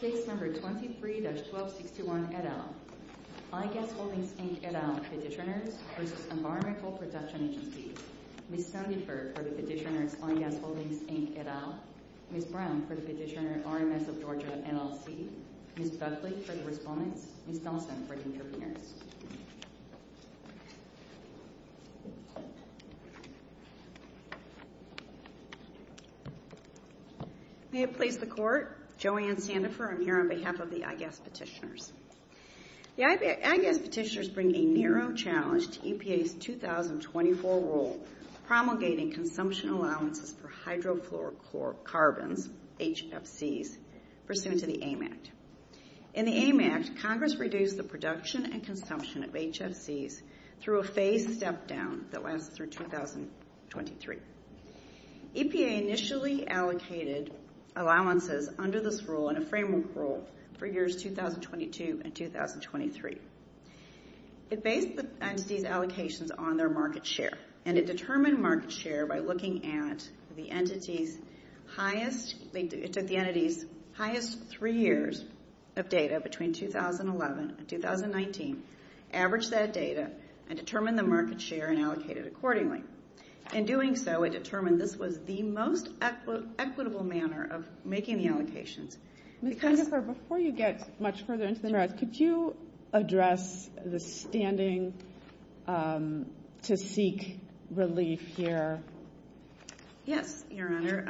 Case No. 23-1261, et al., IGas Holdings, Inc., et al., Petitioners v. Environmental Protection Agency Ms. Sandifer for the Petitioners, IGas Holdings, Inc., et al. Ms. Brown for the Petitioners, RMS of Georgia, NLC Ms. Buckley for the Respondents Ms. Dawson for the Interpreters May it please the Court, Joanne Sandifer here on behalf of the IGas Petitioners. The IGas Petitioners bring a narrow challenge to EPA's 2024 rule promulgating consumption allowances for hydrofluorocarbons, HFCs, pursuant to the AIM Act. In the AIM Act, Congress reduced the production and consumption of HFCs through a phased step-down that lasted through 2023. EPA initially allocated allowances under this rule in a framework rule for years 2022 and 2023. It based the entity's allocations on their market share, and it determined market share by looking at the entity's highest three years of data between 2011 and 2019, averaged that data, and determined the market share and allocated accordingly. In doing so, it determined this was the most equitable manner of making the allocations. Ms. Sandifer, before you get much further into the merits, could you address the standing to seek relief here? Yes, Your Honor.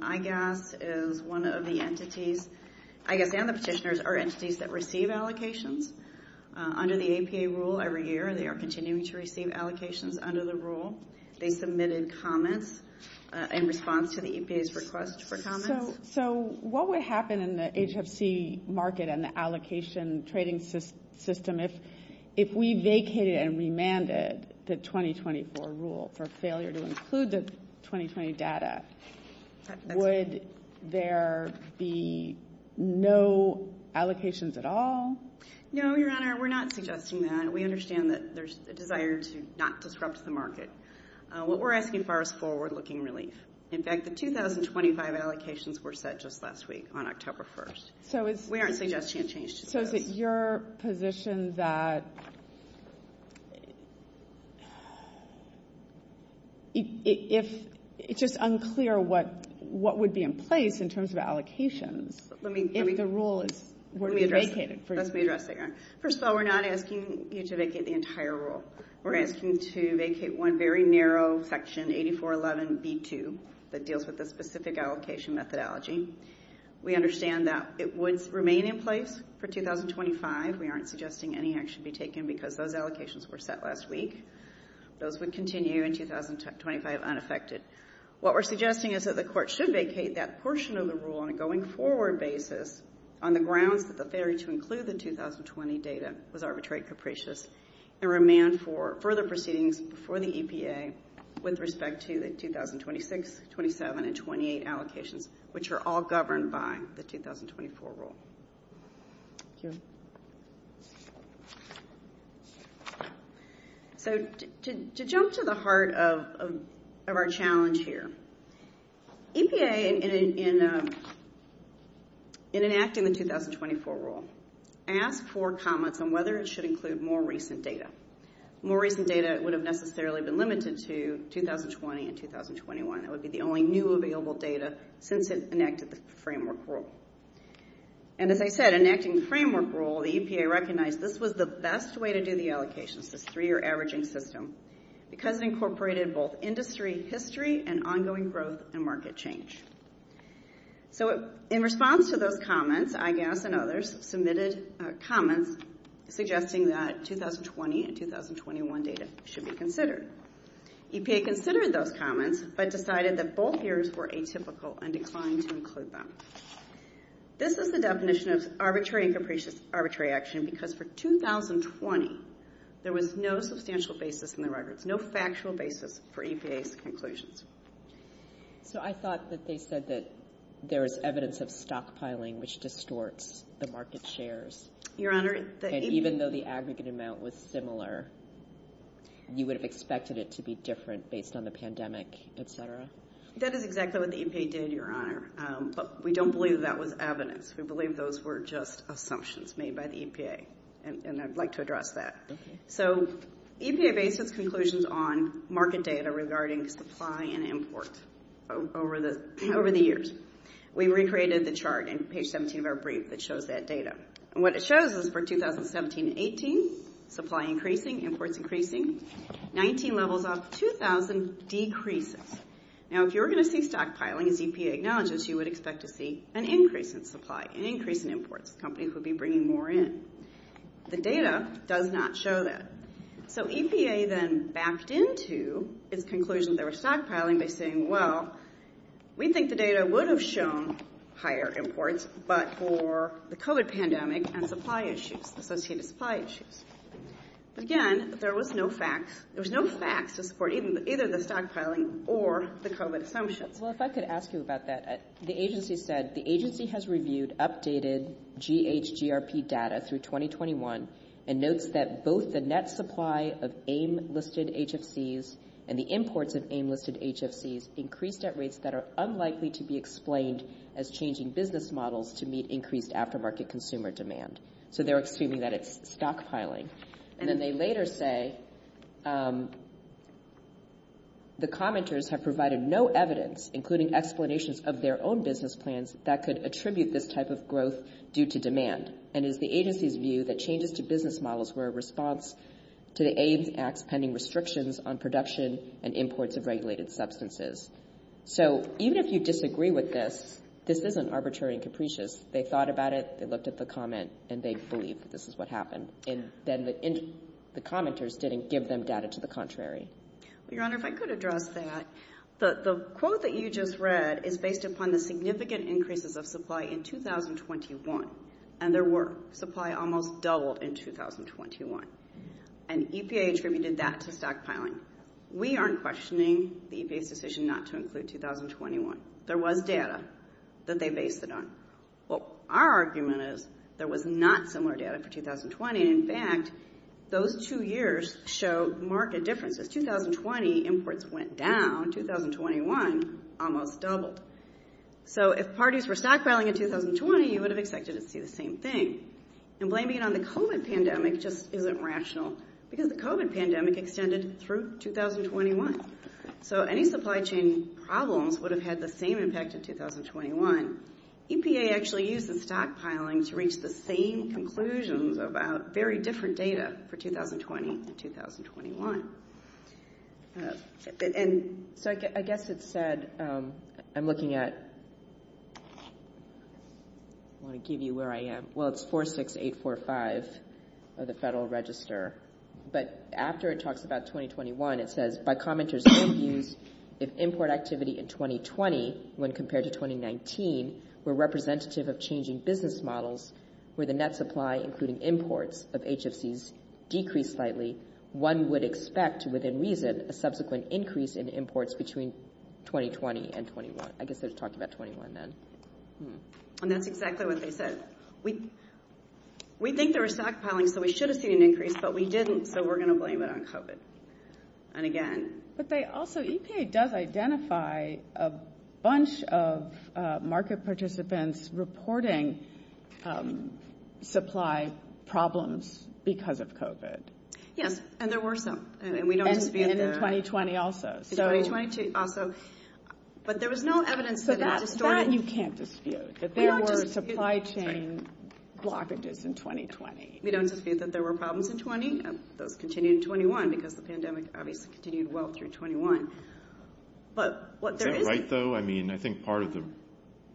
IGas is one of the entities – IGas and the Petitioners are entities that receive allocations under the EPA rule every year. They are continuing to receive allocations under the rule. They submitted comments in response to the EPA's request for comments. So what would happen in the HFC market and the allocation trading system if we vacated and remanded the 2024 rule for failure to include the 2020 data? Would there be no allocations at all? No, Your Honor, we're not suggesting that. We understand that there's a desire to not disrupt the market. What we're asking for is forward-looking relief. In fact, the 2025 allocations were set just last week on October 1st. We aren't suggesting a change to that. So is it your position that it's just unclear what would be in place in terms of allocations if the rule were to be vacated? Let me address that, Your Honor. First of all, we're not asking you to vacate the entire rule. We're asking you to vacate one very narrow section, 8411B2, that deals with the specific allocation methodology. We understand that it would remain in place for 2025. We aren't suggesting any action be taken because those allocations were set last week. Those would continue in 2025 unaffected. What we're suggesting is that the court should vacate that portion of the rule on a going-forward basis on the grounds that the failure to include the 2020 data was arbitrary capricious and remand for further proceedings before the EPA with respect to the 2026, 27, and 28 allocations, which are all governed by the 2024 rule. Thank you. So to jump to the heart of our challenge here, EPA, in enacting the 2024 rule, asked for comments on whether it should include more recent data. More recent data would have necessarily been limited to 2020 and 2021. That would be the only new available data since it enacted the framework rule. And as I said, enacting the framework rule, the EPA recognized this was the best way to do the allocations, this three-year averaging system, because it incorporated both industry history and ongoing growth and market change. So in response to those comments, IGAS and others submitted comments suggesting that 2020 and 2021 data should be considered. EPA considered those comments but decided that both years were atypical and declined to include them. This is the definition of arbitrary and capricious arbitrary action because for 2020, there was no substantial basis in the records, no factual basis for EPA's conclusions. So I thought that they said that there is evidence of stockpiling, which distorts the market shares. And even though the aggregate amount was similar, you would have expected it to be different based on the pandemic, etc.? That is exactly what the EPA did, Your Honor. But we don't believe that was evidence. We believe those were just assumptions made by the EPA, and I'd like to address that. So EPA based its conclusions on market data regarding supply and import over the years. We recreated the chart in page 17 of our brief that shows that data. And what it shows is for 2017-18, supply increasing, imports increasing. 19 levels off 2000 decreases. Now, if you were going to see stockpiling, as EPA acknowledges, you would expect to see an increase in supply, an increase in imports. Companies would be bringing more in. The data does not show that. So EPA then backed into its conclusion that they were stockpiling by saying, well, we think the data would have shown higher imports, but for the COVID pandemic and supply issues, associated supply issues. But again, there was no facts. There was no facts to support either the stockpiling or the COVID assumptions. Well, if I could ask you about that. The agency said the agency has reviewed updated GHGRP data through 2021 and notes that both the net supply of AIM listed HFCs and the imports of AIM listed HFCs increased at rates that are unlikely to be explained as changing business models to meet increased aftermarket consumer demand. So they're assuming that it's stockpiling. And then they later say the commenters have provided no evidence, including explanations of their own business plans, that could attribute this type of growth due to demand and is the agency's view that changes to business models were a response to the AIMS Act's pending restrictions on production and imports of regulated substances. So even if you disagree with this, this isn't arbitrary and capricious. They thought about it, they looked at the comment, and they believe that this is what happened. And then the commenters didn't give them data to the contrary. Well, Your Honor, if I could address that. The quote that you just read is based upon the significant increases of supply in 2021. And there were. Supply almost doubled in 2021. And EPA attributed that to stockpiling. We aren't questioning the EPA's decision not to include 2021. There was data that they based it on. Well, our argument is there was not similar data for 2020. In fact, those two years show marked differences. 2020 imports went down. 2021 almost doubled. So if parties were stockpiling in 2020, you would have expected to see the same thing. And blaming it on the COVID pandemic just isn't rational because the COVID pandemic extended through 2021. So any supply chain problems would have had the same impact in 2021. EPA actually used the stockpiling to reach the same conclusions about very different data for 2020 and 2021. So I guess it said, I'm looking at, I want to give you where I am. Well, it's 46845 of the Federal Register. But after it talks about 2021, it says, by commenters' own views, if import activity in 2020 when compared to 2019 were representative of changing business models, where the net supply, including imports, of HFCs decreased slightly, one would expect, within reason, a subsequent increase in imports between 2020 and 2021. I guess they're talking about 21 then. And that's exactly what they said. We think there was stockpiling, so we should have seen an increase, but we didn't, so we're going to blame it on COVID. And again. But they also, EPA does identify a bunch of market participants reporting supply problems because of COVID. Yes, and there were some, and we don't dispute that. And in 2020 also. In 2020 also. But there was no evidence that it distorted. So that you can't dispute, that there were supply chain blockages in 2020. We don't dispute that there were problems in 20. Those continued in 21 because the pandemic obviously continued well through 21. But what there is. Is that right, though? I mean, I think part of the,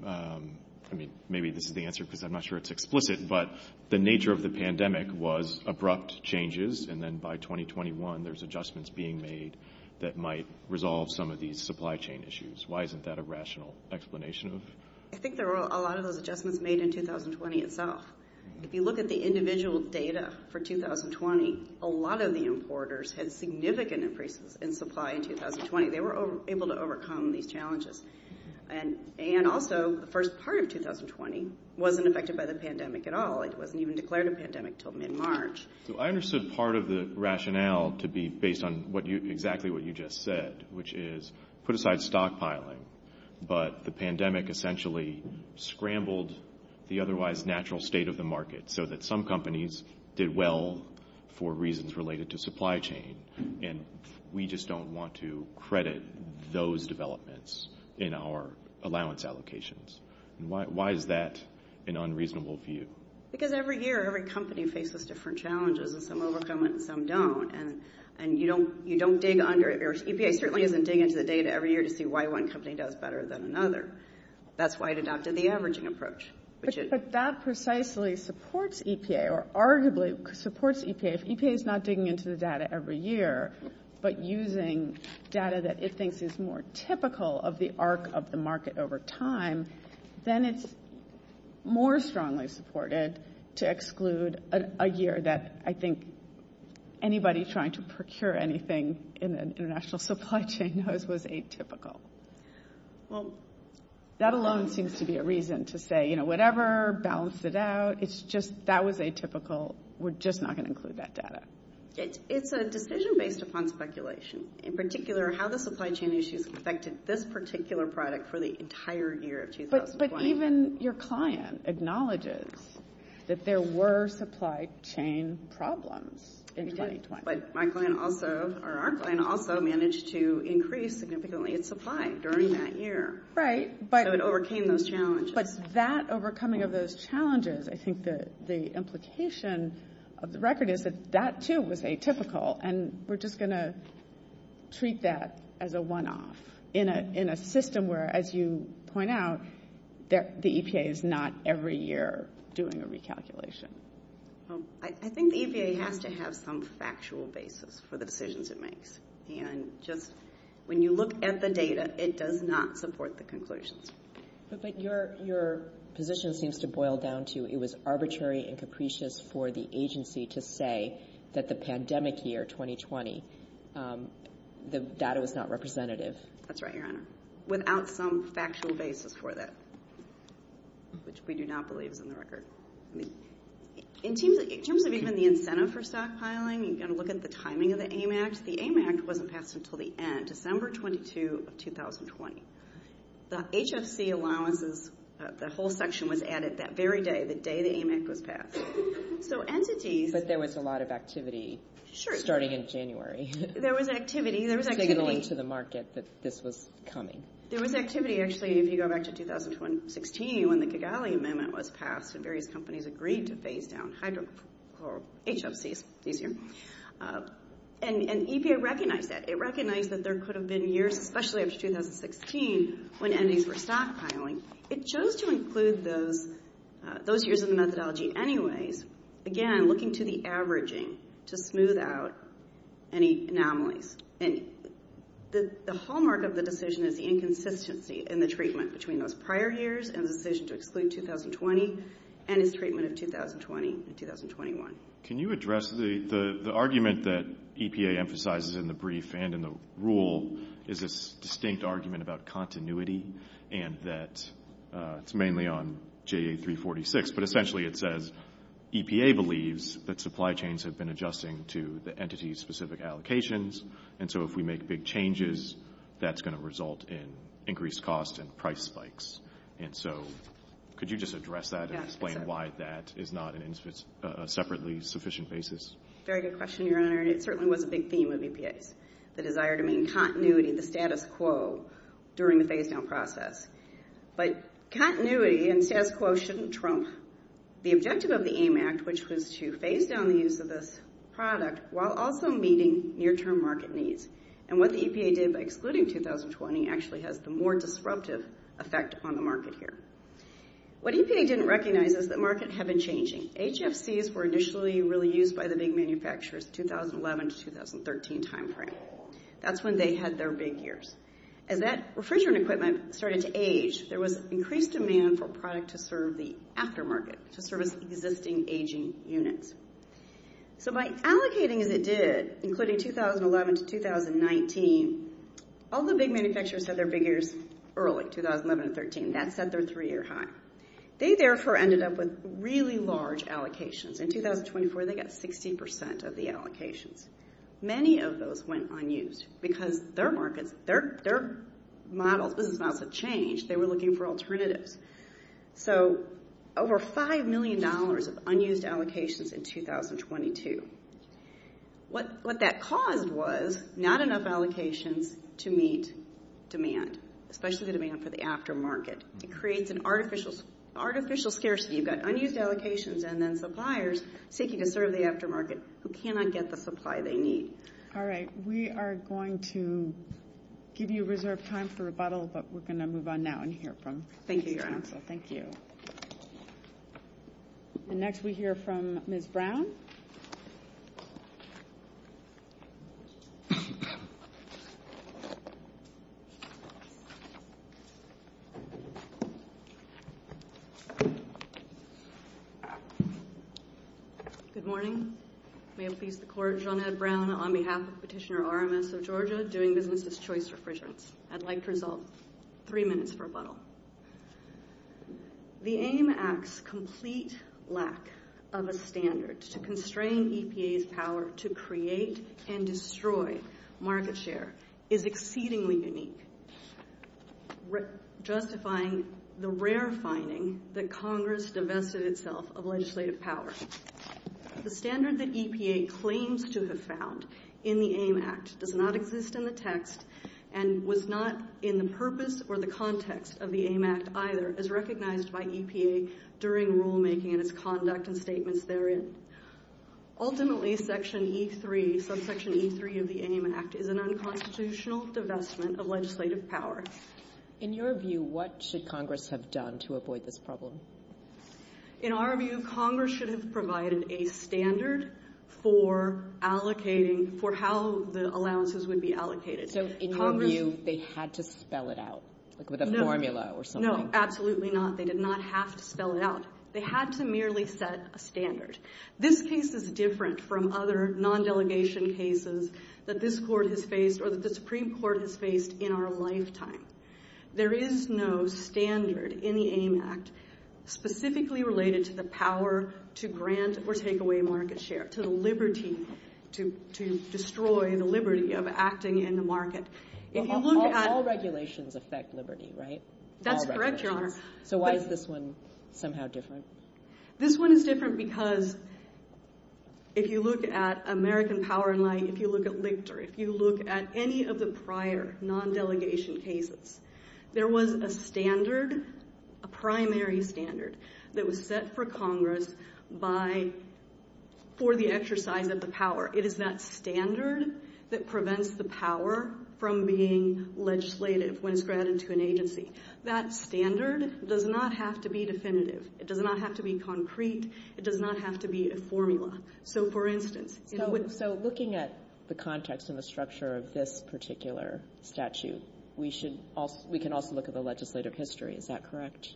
I mean, maybe this is the answer because I'm not sure it's explicit, but the nature of the pandemic was abrupt changes, and then by 2021, there's adjustments being made that might resolve some of these supply chain issues. Why isn't that a rational explanation? I think there were a lot of those adjustments made in 2020 itself. If you look at the individual data for 2020, a lot of the importers had significant increases in supply in 2020. They were able to overcome these challenges. And also, the first part of 2020 wasn't affected by the pandemic at all. It wasn't even declared a pandemic until mid-March. So I understood part of the rationale to be based on exactly what you just said, which is put aside stockpiling, but the pandemic essentially scrambled the otherwise natural state of the market so that some companies did well for reasons related to supply chain. And we just don't want to credit those developments in our allowance allocations. Why is that an unreasonable view? Because every year, every company faces different challenges, and some overcome it and some don't. EPA certainly isn't digging into the data every year to see why one company does better than another. That's why it adopted the averaging approach. But that precisely supports EPA, or arguably supports EPA. If EPA is not digging into the data every year, but using data that it thinks is more typical of the arc of the market over time, then it's more strongly supported to exclude a year that I think anybody trying to procure anything in an international supply chain knows was atypical. Well, that alone seems to be a reason to say, you know, whatever, balance it out. It's just that was atypical. We're just not going to include that data. It's a decision based upon speculation, in particular how the supply chain issues affected this particular product for the entire year of 2020. But even your client acknowledges that there were supply chain problems in 2020. But my client also, or our client also, managed to increase significantly its supply during that year. Right. So it overcame those challenges. But that overcoming of those challenges, I think the implication of the record is that that, too, was atypical. And we're just going to treat that as a one-off in a system where, as you point out, the EPA is not every year doing a recalculation. I think the EPA has to have some factual basis for the decisions it makes. And just when you look at the data, it does not support the conclusions. But your position seems to boil down to it was arbitrary and capricious for the agency to say that the pandemic year, 2020, the data was not representative. That's right, Your Honor, without some factual basis for that, which we do not believe is in the record. In terms of even the incentive for stockpiling, you've got to look at the timing of the AIM Act. The AIM Act wasn't passed until the end, December 22 of 2020. The HFC allowances, the whole section was added that very day, the day the AIM Act was passed. But there was a lot of activity starting in January. There was activity. There was activity. Signaling to the market that this was coming. There was activity, actually, if you go back to 2016 when the Kigali Amendment was passed and various companies agreed to phase down HFCs this year. And EPA recognized that. It recognized that there could have been years, especially after 2016, when entities were stockpiling. It chose to include those years in the methodology anyways, again, looking to the averaging to smooth out any anomalies. And the hallmark of the decision is the inconsistency in the treatment between those prior years and the decision to exclude 2020 and its treatment of 2020 and 2021. Can you address the argument that EPA emphasizes in the brief and in the rule is this distinct argument about continuity and that it's mainly on JA346, but essentially it says EPA believes that supply chains have been adjusting to the entity-specific allocations, and so if we make big changes, that's going to result in increased costs and price spikes. And so could you just address that and explain why that is not a separately sufficient basis? Very good question, Your Honor. It certainly was a big theme of EPA's, the desire to mean continuity, the status quo during the phase-down process. But continuity and status quo shouldn't trump the objective of the AIM Act, which was to phase down the use of this product while also meeting near-term market needs. And what the EPA did by excluding 2020 actually has the more disruptive effect on the market here. What EPA didn't recognize is that markets have been changing. HFCs were initially really used by the big manufacturers 2011 to 2013 timeframe. That's when they had their big years. As that refrigerant equipment started to age, there was increased demand for product to serve the aftermarket, to service existing aging units. So by allocating as it did, including 2011 to 2019, all the big manufacturers had their big years early, 2011 to 2013. That set their three-year high. They, therefore, ended up with really large allocations. In 2024, they got 60% of the allocations. Many of those went unused because their markets, their models, business models have changed. They were looking for alternatives. So over $5 million of unused allocations in 2022. What that caused was not enough allocations to meet demand, especially the demand for the aftermarket. It creates an artificial scarcity. You've got unused allocations and then suppliers seeking to serve the aftermarket who cannot get the supply they need. All right. We are going to give you reserved time for rebuttal, but we're going to move on now and hear from you. Thank you, Your Honor. Thank you. And next we hear from Ms. Brown. Good morning. May it please the Court, Jeanette Brown on behalf of Petitioner RMS of Georgia doing business as choice refrigerants. I'd like to resolve three minutes for rebuttal. The AIM Act's complete lack of a standard to constrain EPA's power to create and destroy market share is exceedingly unique, justifying the rare finding that Congress divested itself of legislative power. The standard that EPA claims to have found in the AIM Act does not exist in the text and was not in the purpose or the context of the AIM Act either, as recognized by EPA during rulemaking and its conduct and statements therein. Ultimately, Section E3, subsection E3 of the AIM Act, is an unconstitutional divestment of legislative power. In your view, what should Congress have done to avoid this problem? In our view, Congress should have provided a standard for allocating, for how the allowances would be allocated. So in your view, they had to spell it out, like with a formula or something? No, absolutely not. They did not have to spell it out. They had to merely set a standard. This case is different from other non-delegation cases that this Court has faced or that the Supreme Court has faced in our lifetime. There is no standard in the AIM Act specifically related to the power to grant or take away market share, to the liberty to destroy the liberty of acting in the market. All regulations affect liberty, right? That's correct, Your Honor. So why is this one somehow different? This one is different because if you look at American Power & Light, if you look at Lichter, if you look at any of the prior non-delegation cases, there was a standard, a primary standard, that was set for Congress for the exercise of the power. It is that standard that prevents the power from being legislative when it's granted to an agency. That standard does not have to be definitive. It does not have to be concrete. It does not have to be a formula. So, for instance, it would be... So looking at the context and the structure of this particular statute, we can also look at the legislative history. Is that correct?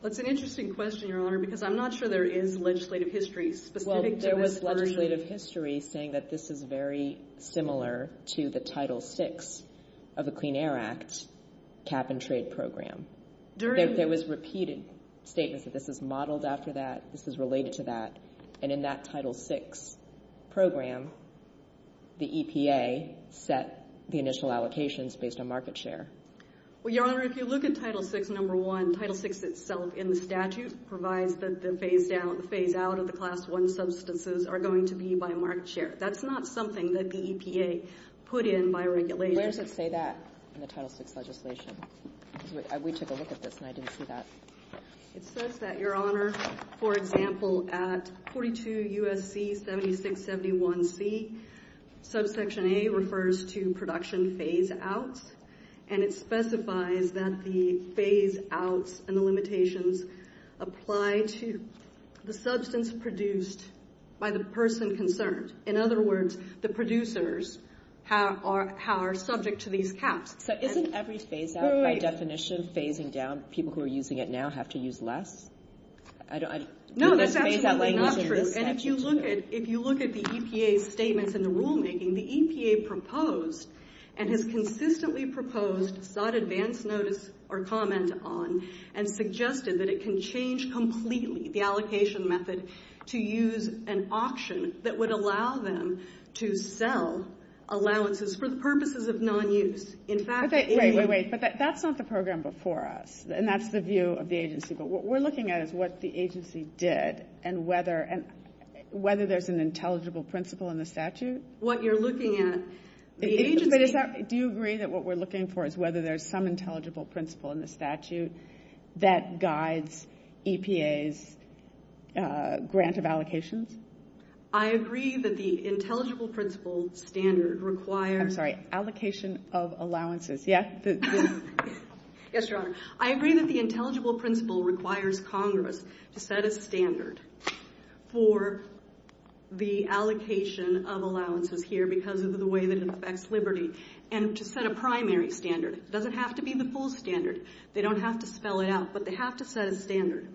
Well, it's an interesting question, Your Honor, because I'm not sure there is legislative history specific to this very... Well, there was legislative history saying that this is very similar to the Title VI of the Clean Air Act cap-and-trade program. There was repeated statements that this is modeled after that, this is related to that, and in that Title VI program, the EPA set the initial allocations based on market share. Well, Your Honor, if you look at Title VI, number one, Title VI itself in the statute provides that the phase-out of the Class I substances are going to be by market share. That's not something that the EPA put in by regulation. Where does it say that in the Title VI legislation? We took a look at this, and I didn't see that. It says that, Your Honor, for example, at 42 U.S.C. 7671C, subsection A refers to production phase-outs, and it specifies that the phase-outs and the limitations apply to the substance produced by the person concerned. In other words, the producers are subject to these caps. So isn't every phase-out by definition phasing down? People who are using it now have to use less? No, that's absolutely not true. And if you look at the EPA's statements in the rulemaking, the EPA proposed and has consistently proposed, sought advance notice or comment on, and suggested that it can change completely the allocation method to use an auction that would allow them to sell allowances for the purposes of non-use. Wait, wait, wait. But that's not the program before us, and that's the view of the agency. But what we're looking at is what the agency did and whether there's an intelligible principle in the statute. What you're looking at, the agency... Do you agree that what we're looking for is whether there's some intelligible principle in the statute that guides EPA's grant of allocations? I agree that the intelligible principle standard requires... I'm sorry, allocation of allowances. Yes, Your Honor. I agree that the intelligible principle requires Congress to set a standard for the allocation of allowances here because of the way that it affects liberty, and to set a primary standard. It doesn't have to be the full standard. They don't have to spell it out, but they have to set a standard.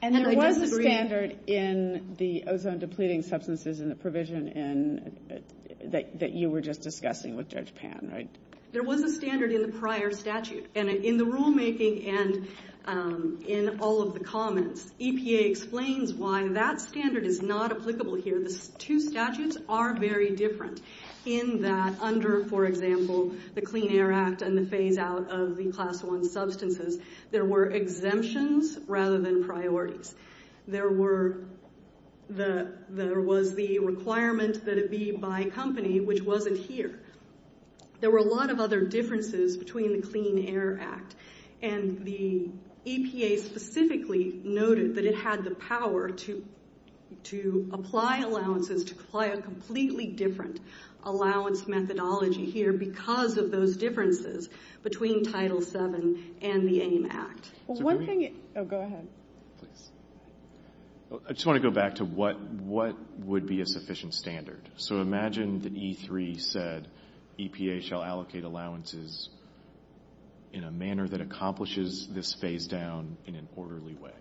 And there was a standard in the ozone-depleting substances and the provision that you were just discussing with Judge Pan, right? There was a standard in the prior statute. And in the rulemaking and in all of the comments, EPA explains why that standard is not applicable here. The two statutes are very different in that under, for example, the Clean Air Act and the phase-out of the Class I substances, there were exemptions rather than priorities. There was the requirement that it be by company, which wasn't here. There were a lot of other differences between the Clean Air Act, and the EPA specifically noted that it had the power to apply allowances, to apply a completely different allowance methodology here because of those differences between Title VII and the AIM Act. Oh, go ahead. I just want to go back to what would be a sufficient standard. So imagine that E3 said EPA shall allocate allowances in a manner that accomplishes this phase-down in an orderly way.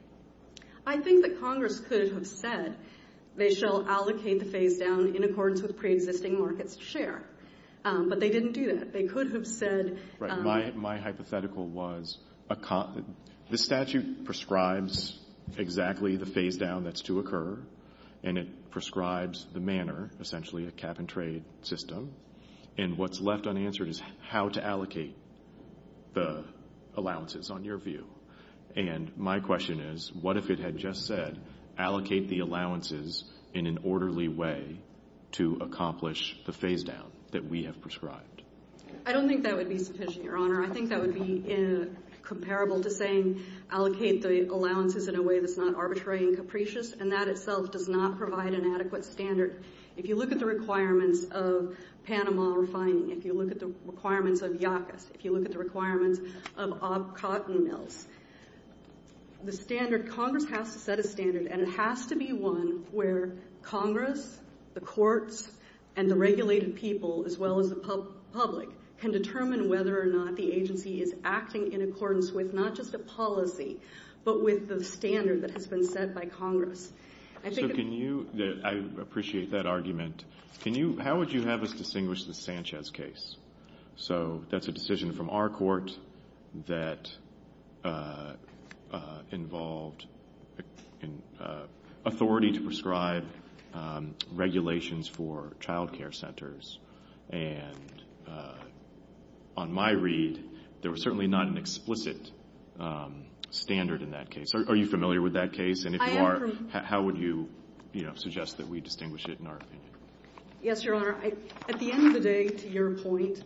I think that Congress could have said they shall allocate the phase-down in accordance with pre-existing markets to share, but they didn't do that. My hypothetical was this statute prescribes exactly the phase-down that's to occur, and it prescribes the manner, essentially a cap-and-trade system, and what's left unanswered is how to allocate the allowances, on your view. And my question is, what if it had just said, allocate the allowances in an orderly way to accomplish the phase-down that we have prescribed? I don't think that would be sufficient, Your Honor. I think that would be comparable to saying allocate the allowances in a way that's not arbitrary and capricious, and that itself does not provide an adequate standard. If you look at the requirements of Panama refining, if you look at the requirements of YACAS, if you look at the requirements of cotton mills, the standard, Congress has to set a standard, and it has to be one where Congress, the courts, and the regulated people, as well as the public, can determine whether or not the agency is acting in accordance with not just a policy, but with the standard that has been set by Congress. So can you, I appreciate that argument, how would you have us distinguish the Sanchez case? So that's a decision from our court that involved authority to prescribe regulations for childcare centers. And on my read, there was certainly not an explicit standard in that case. Are you familiar with that case? And if you are, how would you suggest that we distinguish it in our opinion? Yes, Your Honor. At the end of the day, to your point,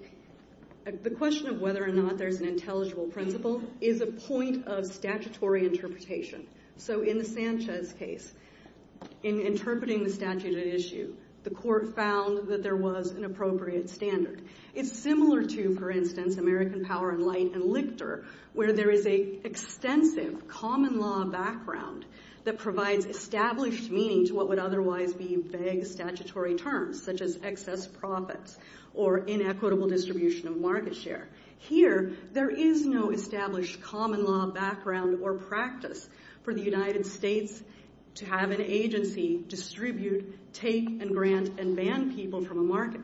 the question of whether or not there's an intelligible principle is a point of statutory interpretation. So in the Sanchez case, in interpreting the statute at issue, the court found that there was an appropriate standard. It's similar to, for instance, American Power and Light and Lichter, where there is an extensive common law background that provides established meaning to what would otherwise be vague statutory terms, such as excess profits or inequitable distribution of market share. Here, there is no established common law background or practice for the United States to have an agency distribute, take, and grant and ban people from a market.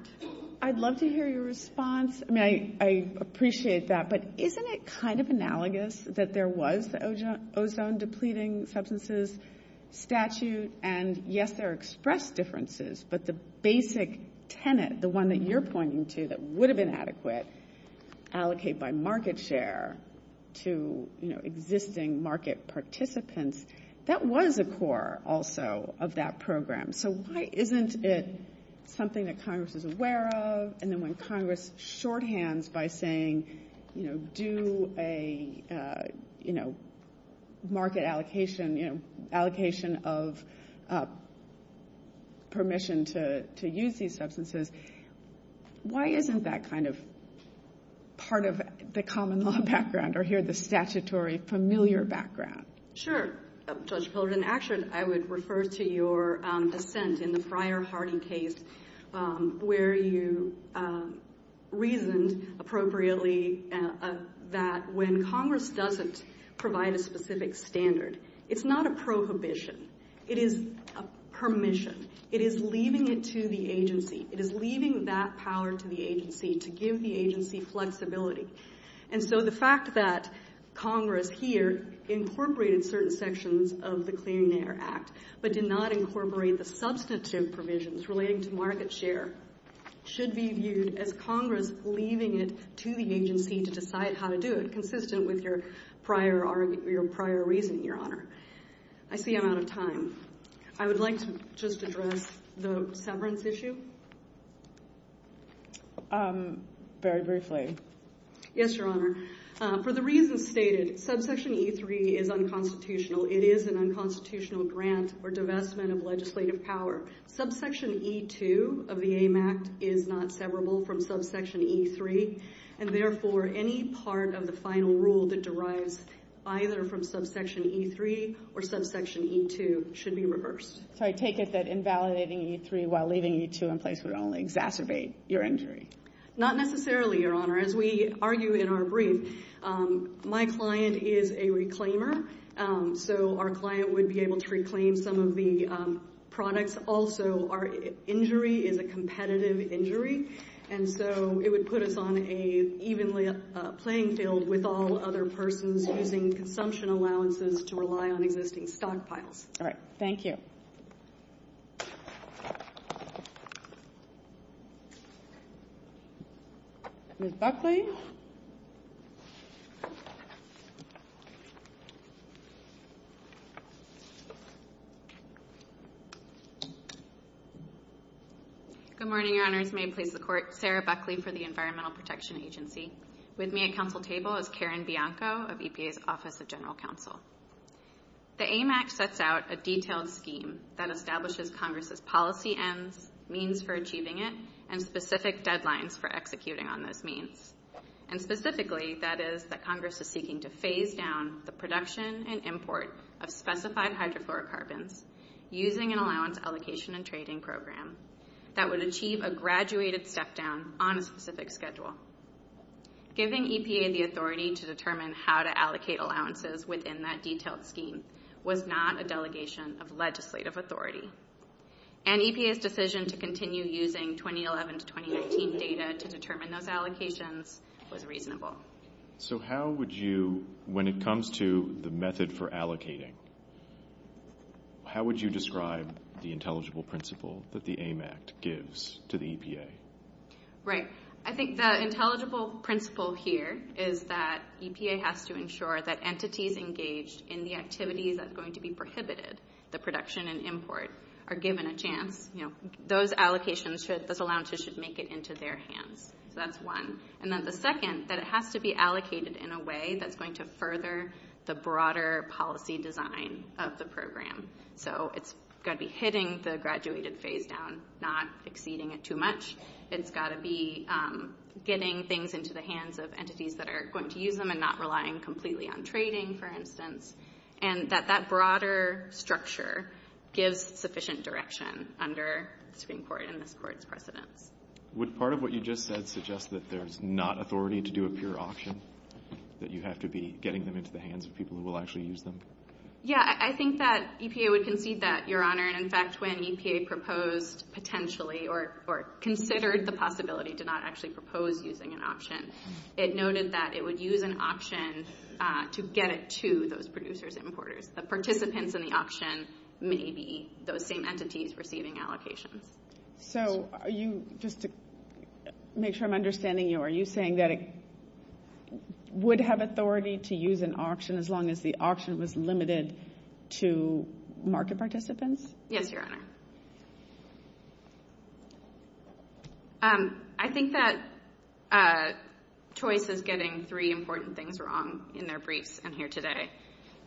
I'd love to hear your response. I mean, I appreciate that, but isn't it kind of analogous that there was the ozone-depleting substances statute? And yes, there are express differences, but the basic tenet, the one that you're pointing to that would have been adequate, allocate by market share to existing market participants, that was a core also of that program. So why isn't it something that Congress is aware of? And then when Congress shorthands by saying, you know, market allocation, you know, allocation of permission to use these substances, why isn't that kind of part of the common law background or here the statutory familiar background? Sure, Judge Pilgrim. Actually, I would refer to your dissent in the prior Harding case where you reasoned appropriately that when Congress doesn't provide a specific standard, it's not a prohibition. It is a permission. It is leaving it to the agency. It is leaving that power to the agency to give the agency flexibility. And so the fact that Congress here incorporated certain sections of the Clearing Air Act but did not incorporate the substantive provisions relating to market share should be viewed as Congress leaving it to the agency to decide how to do it, consistent with your prior reasoning, Your Honor. I see I'm out of time. I would like to just address the severance issue. Very briefly. Yes, Your Honor. For the reasons stated, subsection E3 is unconstitutional. It is an unconstitutional grant or divestment of legislative power. Subsection E2 of the AIM Act is not severable from subsection E3, and therefore any part of the final rule that derives either from subsection E3 or subsection E2 should be reversed. So I take it that invalidating E3 while leaving E2 in place would only exacerbate your injury. Not necessarily, Your Honor. As we argue in our brief, my client is a reclaimer, so our client would be able to reclaim some of the products. Also, our injury is a competitive injury, and so it would put us on an evenly playing field with all other persons using consumption allowances to rely on existing stockpiles. All right. Thank you. Ms. Buckley? Good morning, Your Honors. May it please the Court, Sarah Buckley for the Environmental Protection Agency. With me at council table is Karen Bianco of EPA's Office of General Counsel. The AIM Act sets out a detailed scheme that establishes Congress's policy ends, means for achieving it, and specific deadlines for executing on those means. And specifically, that is that Congress is seeking to phase down the production and import of specified hydrofluorocarbons using an allowance allocation and trading program that would achieve a graduated step-down on a specific schedule. Giving EPA the authority to determine how to allocate allowances within that detailed scheme was not a delegation of legislative authority. And EPA's decision to continue using 2011 to 2019 data to determine those allocations was reasonable. So how would you, when it comes to the method for allocating, how would you describe the intelligible principle that the AIM Act gives to the EPA? Right. I think the intelligible principle here is that EPA has to ensure that entities engaged in the activities that are going to be prohibited, the production and import, are given a chance. Those allocations, those allowances should make it into their hands. So that's one. And then the second, that it has to be allocated in a way that's going to further the broader policy design of the program. So it's got to be hitting the graduated phase down, not exceeding it too much. It's got to be getting things into the hands of entities that are going to use them and not relying completely on trading, for instance. And that that broader structure gives sufficient direction under the Supreme Court and this Court's precedents. Would part of what you just said suggest that there's not authority to do a pure auction, that you have to be getting them into the hands of people who will actually use them? Yeah. I think that EPA would concede that, Your Honor. And, in fact, when EPA proposed potentially or considered the possibility to not actually propose using an option, it noted that it would use an option to get it to those producers, importers. The participants in the auction may be those same entities receiving allocations. So are you, just to make sure I'm understanding you, are you saying that it would have authority to use an auction as long as the auction was limited to market participants? Yes, Your Honor. I think that Choice is getting three important things wrong in their briefs in here today.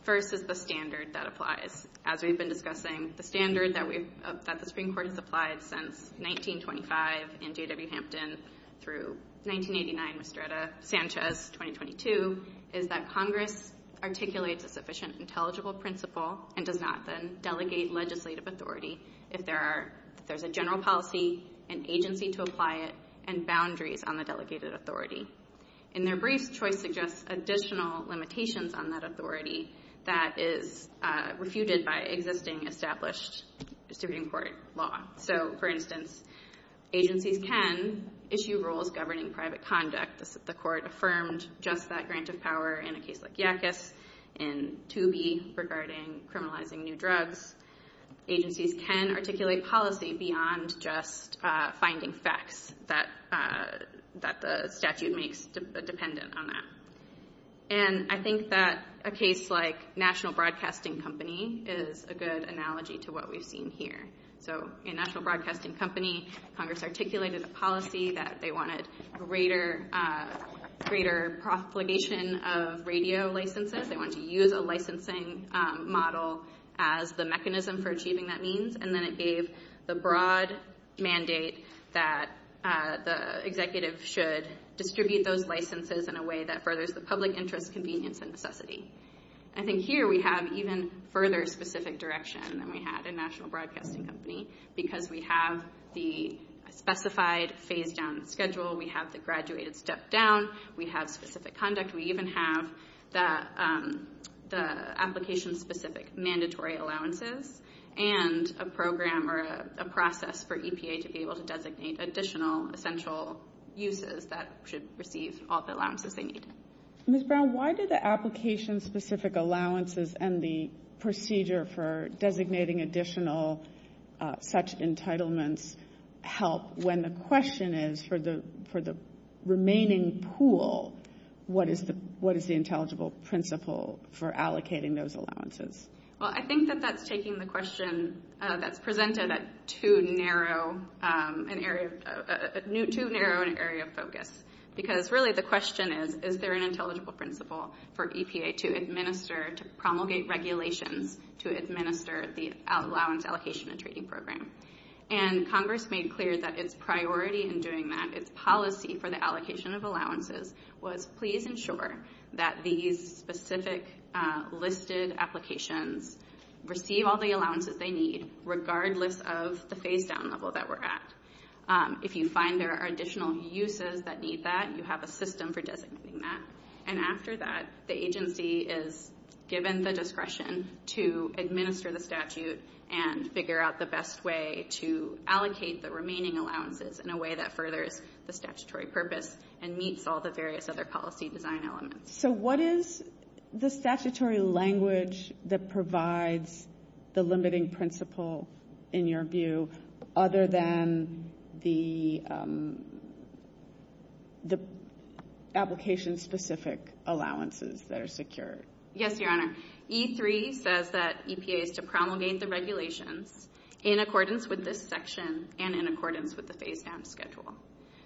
First is the standard that applies. As we've been discussing, the standard that the Supreme Court has applied since 1925 in J.W. Hampton through 1989, Mistreta, Sanchez, 2022, is that Congress articulates a sufficient intelligible principle and does not then delegate legislative authority if there's a general policy, an agency to apply it, and boundaries on the delegated authority. In their briefs, Choice suggests additional limitations on that authority that is refuted by existing established Supreme Court law. So, for instance, agencies can issue rules governing private conduct. The Court affirmed just that grant of power in a case like Yackas in 2B regarding criminalizing new drugs. Agencies can articulate policy beyond just finding facts that the statute makes dependent on that. And I think that a case like National Broadcasting Company is a good analogy to what we've seen here. So, in National Broadcasting Company, Congress articulated a policy that they wanted greater propagation of radio licenses. They wanted to use a licensing model as the mechanism for achieving that means, and then it gave the broad mandate that the executive should distribute those licenses in a way that furthers the public interest, convenience, and necessity. I think here we have even further specific direction than we had in National Broadcasting Company because we have the specified phase-down schedule, we have the graduated step-down, we have specific conduct, we even have the application-specific mandatory allowances, and a program or a process for EPA to be able to designate additional essential uses that should receive all the allowances they need. Ms. Brown, why did the application-specific allowances and the procedure for designating additional such entitlements help when the question is for the remaining pool, what is the intelligible principle for allocating those allowances? Well, I think that that's taking the question that's presented at too narrow an area of focus because really the question is, is there an intelligible principle for EPA to administer, to promulgate regulations to administer the Allowance Allocation and Trading Program? And Congress made clear that its priority in doing that, its policy for the allocation of allowances, was please ensure that these specific listed applications receive all the allowances they need, regardless of the phase-down level that we're at. If you find there are additional uses that need that, you have a system for designating that. And after that, the agency is given the discretion to administer the statute and figure out the best way to allocate the remaining allowances in a way that furthers the statutory purpose and meets all the various other policy design elements. So what is the statutory language that provides the limiting principle, in your view, other than the application-specific allowances that are secured? Yes, Your Honor. E3 says that EPA is to promulgate the regulations in accordance with this section and in accordance with the phase-down schedule.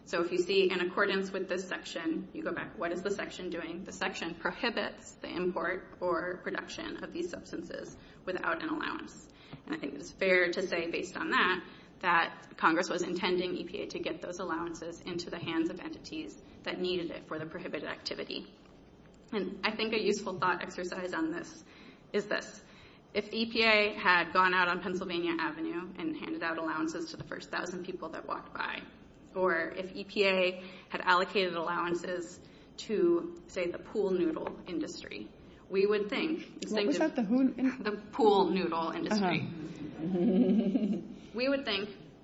So if you see in accordance with this section, you go back, what is the section doing? The section prohibits the import or production of these substances without an allowance. And I think it's fair to say, based on that, that Congress was intending EPA to get those allowances into the hands of entities that needed it for the prohibited activity. And I think a useful thought exercise on this is this. If EPA had gone out on Pennsylvania Avenue and handed out allowances to the first thousand people that walked by, or if EPA had allocated allowances to, say, the pool noodle industry, we would think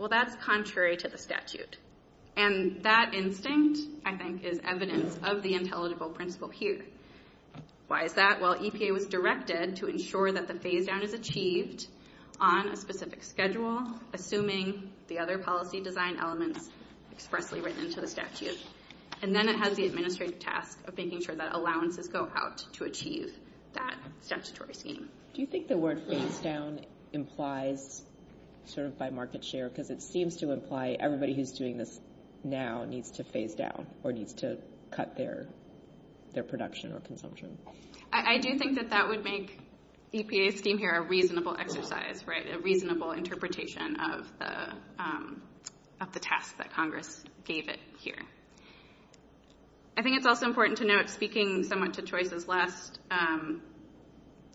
that's contrary to the statute. And that instinct, I think, is evidence of the intelligible principle here. Why is that? Well, EPA was directed to ensure that the phase-down is achieved on a specific schedule, assuming the other policy design elements expressly written into the statute. And then it has the administrative task of making sure that allowances go out to achieve that statutory scheme. Do you think the word phase-down implies, sort of by market share, because it seems to imply everybody who's doing this now needs to phase down or needs to cut their production or consumption? I do think that that would make EPA's scheme here a reasonable exercise, right, a reasonable interpretation of the task that Congress gave it here. I think it's also important to note, speaking somewhat to Choice's last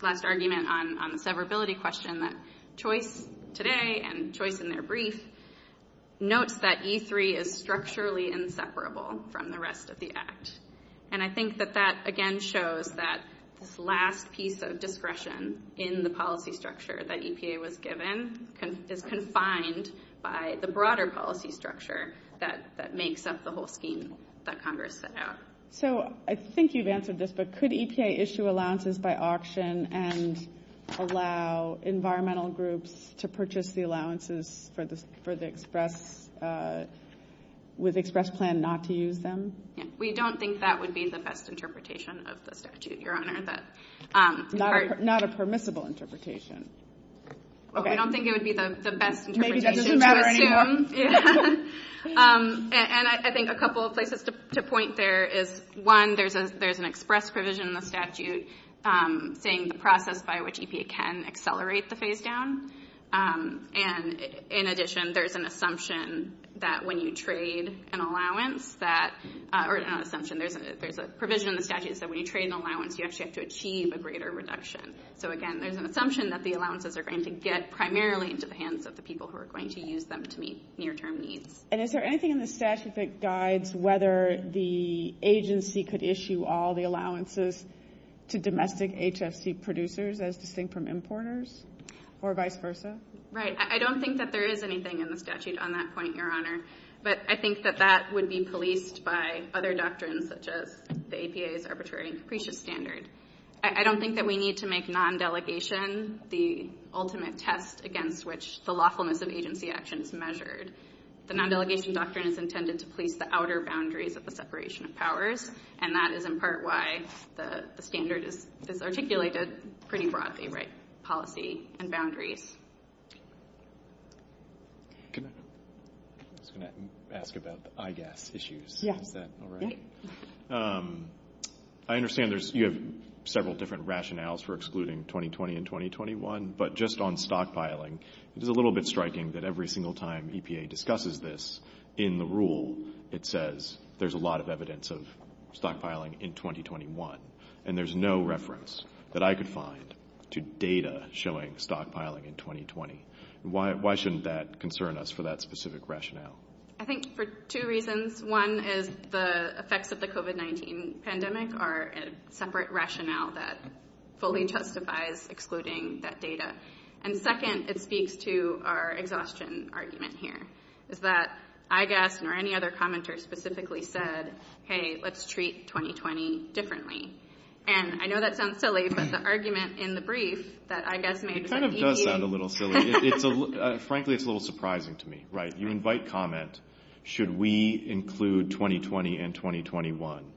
argument on the severability question, that Choice today and Choice in their brief notes that E3 is structurally inseparable from the rest of the Act. And I think that that, again, shows that this last piece of discretion in the policy structure that EPA was given is confined by the broader policy structure that makes up the whole scheme that Congress set out. So I think you've answered this, but could EPA issue allowances by auction and allow environmental groups to purchase the allowances with express plan not to use them? We don't think that would be the best interpretation of the statute, Your Honor. Not a permissible interpretation. We don't think it would be the best interpretation to assume. Maybe that doesn't matter anymore. And I think a couple of places to point there is, one, there's an express provision in the statute saying the process by which EPA can accelerate the phase-down. And, in addition, there's an assumption that when you trade an allowance that – or not assumption, there's a provision in the statute that when you trade an allowance, you actually have to achieve a greater reduction. So, again, there's an assumption that the allowances are going to get primarily into the hands of the people who are going to use them to meet near-term needs. And is there anything in the statute that guides whether the agency could issue all the allowances to domestic HFC producers as distinct from importers or vice versa? Right. I don't think that there is anything in the statute on that point, Your Honor. But I think that that would be policed by other doctrines such as the EPA's arbitrary and capricious standard. I don't think that we need to make non-delegation the ultimate test against which the lawfulness of agency action is measured. The non-delegation doctrine is intended to police the outer boundaries of the separation of powers, and that is in part why the standard is articulated pretty broadly, right, policy and boundaries. I was going to ask about the IGAS issues. Yeah. Is that all right? Yeah. I understand you have several different rationales for excluding 2020 and 2021, but just on stockpiling, it is a little bit striking that every single time EPA discusses this in the rule, it says there's a lot of evidence of stockpiling in 2021, and there's no reference that I could find to data showing stockpiling in 2020. Why shouldn't that concern us for that specific rationale? I think for two reasons. One is the effects of the COVID-19 pandemic are a separate rationale that fully justifies excluding that data. And second, it speaks to our exhaustion argument here, is that IGAS nor any other commenter specifically said, hey, let's treat 2020 differently. And I know that sounds silly, but the argument in the brief that IGAS made was that EPA ---- It kind of does sound a little silly. Frankly, it's a little surprising to me, right? You invite comment, should we include 2020 and 2021?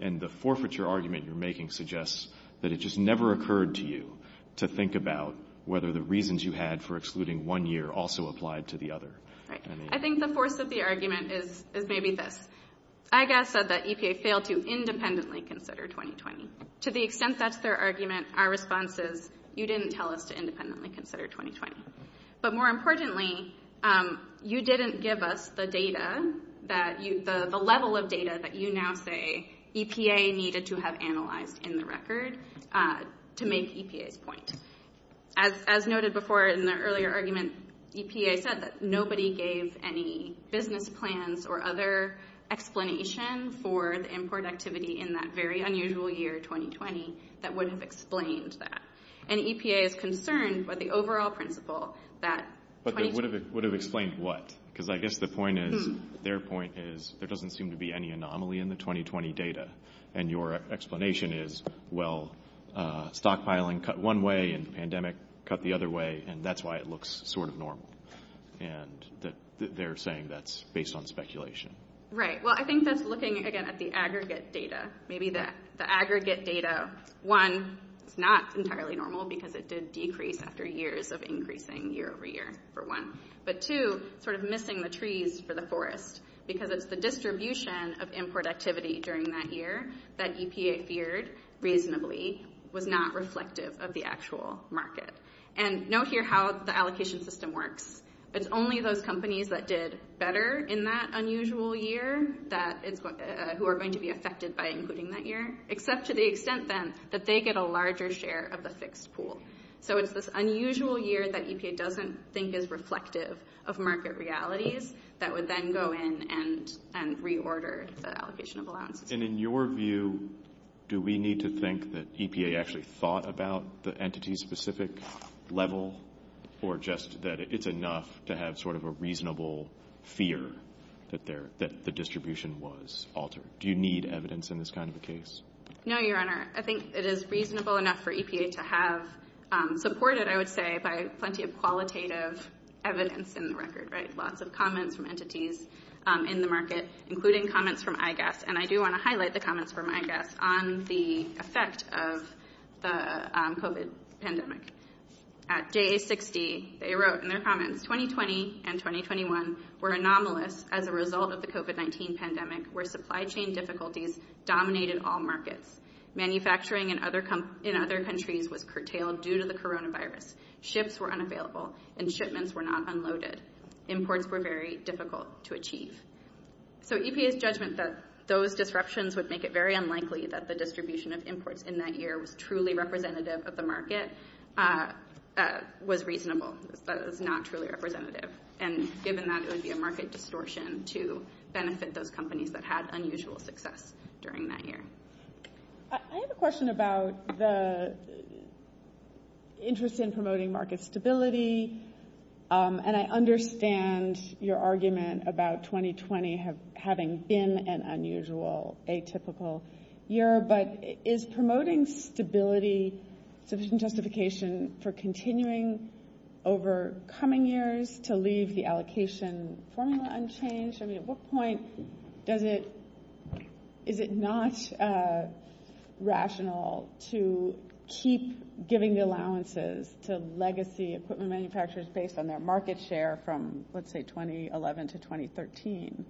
And the forfeiture argument you're making suggests that it just never occurred to you to think about whether the reasons you had for excluding one year also applied to the other. I think the force of the argument is maybe this. IGAS said that EPA failed to independently consider 2020. To the extent that's their argument, our response is, you didn't tell us to independently consider 2020. But more importantly, you didn't give us the data that you ---- the level of data that you now say EPA needed to have analyzed in the record to make EPA's point. And as noted before in the earlier argument, EPA said that nobody gave any business plans or other explanation for the import activity in that very unusual year, 2020, that would have explained that. And EPA is concerned by the overall principle that ---- But would have explained what? Because I guess the point is, their point is, there doesn't seem to be any anomaly in the 2020 data. And your explanation is, well, stockpiling cut one way and pandemic cut the other way. And that's why it looks sort of normal. And they're saying that's based on speculation. Right. Well, I think that's looking, again, at the aggregate data. Maybe the aggregate data, one, it's not entirely normal because it did decrease after years of increasing year over year, for one. But two, sort of missing the trees for the forest. Because it's the distribution of import activity during that year that EPA feared reasonably was not reflective of the actual market. And note here how the allocation system works. It's only those companies that did better in that unusual year that is ---- who are going to be affected by including that year. Except to the extent, then, that they get a larger share of the fixed pool. So it's this unusual year that EPA doesn't think is reflective of market realities that would then go in and reorder the allocation of allowances. And in your view, do we need to think that EPA actually thought about the entity-specific level? Or just that it's enough to have sort of a reasonable fear that the distribution was altered? Do you need evidence in this kind of a case? No, Your Honor. I think it is reasonable enough for EPA to have supported, I would say, by plenty of qualitative evidence in the record, right? Lots of comments from entities in the market, including comments from IGAS. And I do want to highlight the comments from IGAS on the effect of the COVID pandemic. At JA60, they wrote in their comments, 2020 and 2021 were anomalous as a result of the COVID-19 pandemic where supply chain difficulties dominated all markets. Manufacturing in other countries was curtailed due to the coronavirus. Ships were unavailable and shipments were not unloaded. Imports were very difficult to achieve. So EPA's judgment that those disruptions would make it very unlikely that the distribution of imports in that year was truly representative of the market was reasonable. That it was not truly representative. And given that, it would be a market distortion to benefit those companies that had unusual success during that year. I have a question about the interest in promoting market stability. And I understand your argument about 2020 having been an unusual, atypical year. But is promoting stability sufficient justification for continuing over coming years to leave the allocation formula unchanged? At what point is it not rational to keep giving allowances to legacy equipment manufacturers based on their market share from, let's say, 2011 to 2013?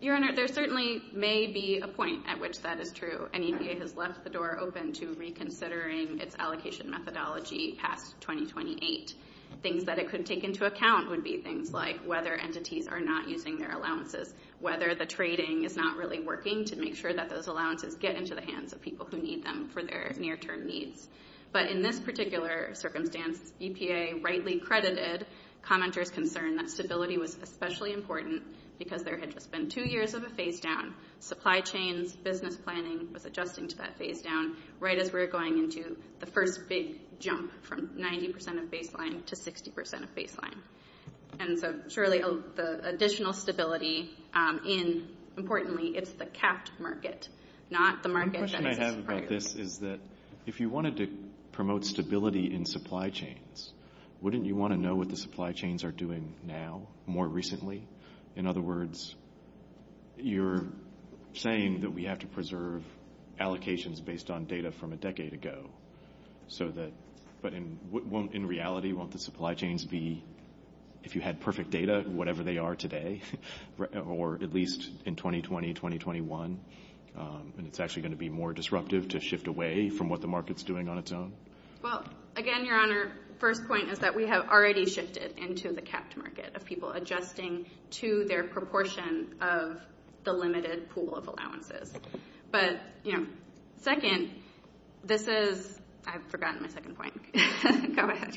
Your Honor, there certainly may be a point at which that is true. And EPA has left the door open to reconsidering its allocation methodology past 2028. Things that it could take into account would be things like whether entities are not using their allowances. Whether the trading is not really working to make sure that those allowances get into the hands of people who need them for their near term needs. But in this particular circumstance, EPA rightly credited commenters' concern that stability was especially important because there had just been two years of a phase down. Supply chains, business planning was adjusting to that phase down right as we were going into the first big jump from 90% of baseline to 60% of baseline. And so surely the additional stability in, importantly, it's the capped market, not the market that exists prior to it. One question I have about this is that if you wanted to promote stability in supply chains, wouldn't you want to know what the supply chains are doing now, more recently? In other words, you're saying that we have to preserve allocations based on data from a decade ago. But in reality, won't the supply chains be, if you had perfect data, whatever they are today, or at least in 2020, 2021, and it's actually going to be more disruptive to shift away from what the market's doing on its own? Well, again, Your Honor, first point is that we have already shifted into the capped market of people adjusting to their proportion of the limited pool of allowances. But, you know, second, this is, I've forgotten my second point. Go ahead.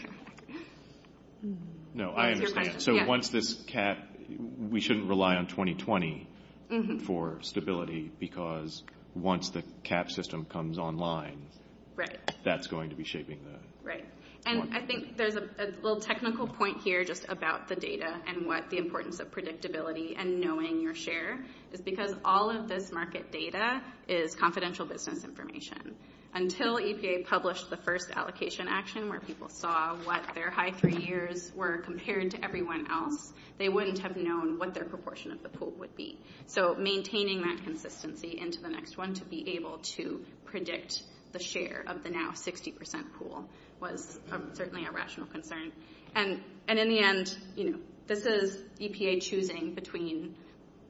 No, I understand. So once this cap, we shouldn't rely on 2020 for stability because once the cap system comes online, that's going to be shaping that. Right. And I think there's a little technical point here just about the data and what the importance of predictability and knowing your share is because all of this market data is confidential business information. Until EPA published the first allocation action where people saw what their high three years were compared to everyone else, they wouldn't have known what their proportion of the pool would be. So maintaining that consistency into the next one to be able to predict the share of the now 60 percent pool was certainly a rational concern. And in the end, you know, this is EPA choosing between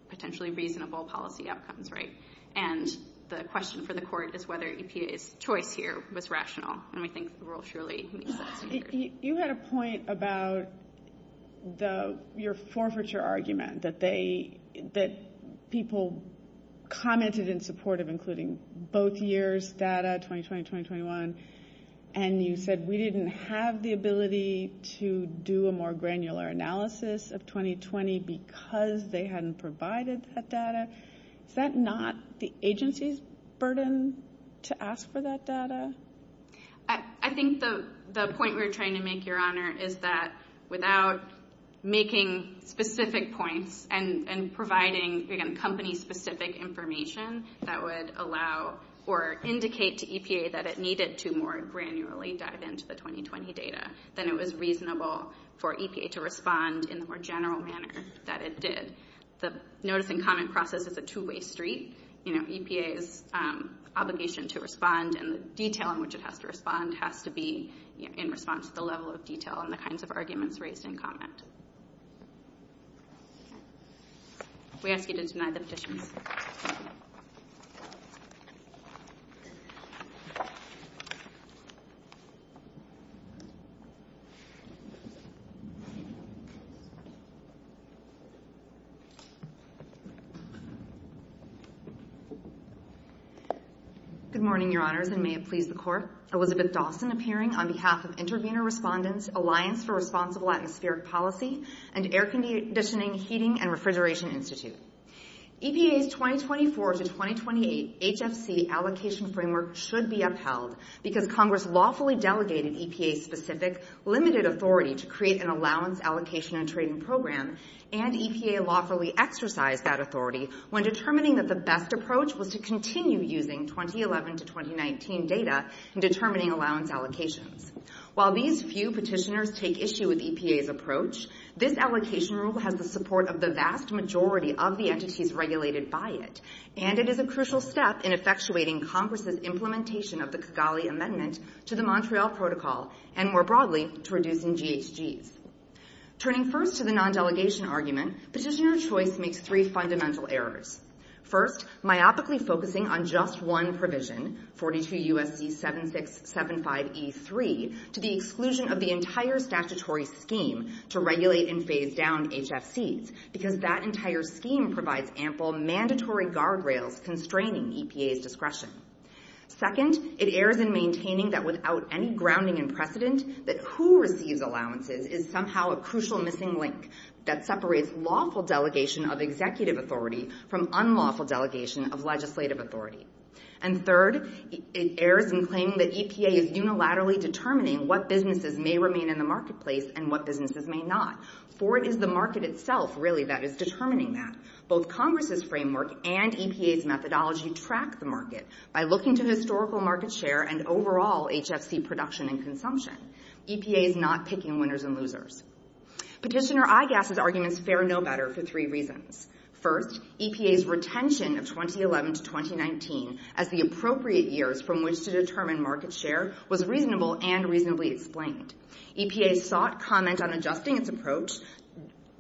potentially reasonable policy outcomes. Right. And the question for the court is whether EPA's choice here was rational. And we think the rule surely makes sense. You had a point about the your forfeiture argument that they that people commented in support of including both years data 2020, 2021. And you said we didn't have the ability to do a more granular analysis of 2020 because they hadn't provided that data. Is that not the agency's burden to ask for that data? I think the point we're trying to make, Your Honor, is that without making specific points and providing, again, company specific information that would allow or indicate to EPA that it needed to more granularly dive into the 2020 data, then it was reasonable for EPA to respond in the more general manner that it did. The notice and comment process is a two way street. You know, EPA's obligation to respond and the detail in which it has to respond has to be in response to the level of detail and the kinds of arguments raised in comment. We ask you to deny the petition. Good morning, Your Honors, and may it please the court. Elizabeth Dawson appearing on behalf of Intervenor Respondents Alliance for Responsible Atmospheric Policy and Air Conditioning, Heating and Refrigeration Institute. EPA's 2024 to 2028 HFC allocation framework should be upheld because Congress lawfully delegated EPA specific limited authority to create an allowance allocation and trading program and EPA lawfully exercise that authority when determining that the best approach was to continue using 2011 to 2019 data in determining allowance allocations. While these few petitioners take issue with EPA's approach, this allocation rule has the support of the vast majority of the entities regulated by it, and it is a crucial step in effectuating Congress's implementation of the Kigali Amendment to the Montreal Protocol and, more broadly, to reducing GHGs. Turning first to the non-delegation argument, petitioner choice makes three fundamental errors. First, myopically focusing on just one provision, 42 U.S.C. 7675E3, to the exclusion of the entire statutory scheme to regulate and phase down HFCs, because that entire scheme provides ample mandatory guardrails constraining EPA's discretion. Second, it errs in maintaining that without any grounding in precedent, that who receives allowances is somehow a crucial missing link that separates lawful delegation of executive authority from unlawful delegation of legislative authority. And third, it errs in claiming that EPA is unilaterally determining what businesses may remain in the marketplace and what businesses may not, for it is the market itself, really, that is determining that. Both Congress's framework and EPA's methodology track the market by looking to historical market share and overall HFC production and consumption. EPA is not picking winners and losers. Petitioner IGAS's arguments fare no better for three reasons. First, EPA's retention of 2011 to 2019 as the appropriate years from which to determine market share was reasonable and reasonably explained. EPA sought comment on adjusting its approach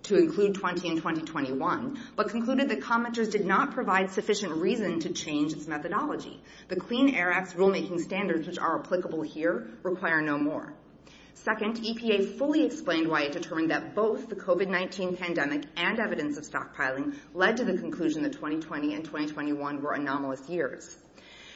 to include 20 and 2021, but concluded that commenters did not provide sufficient reason to change its methodology. The Clean Air Act's rulemaking standards, which are applicable here, require no more. Second, EPA fully explained why it determined that both the COVID-19 pandemic and evidence of stockpiling led to the conclusion that 2020 and 2021 were anomalous years.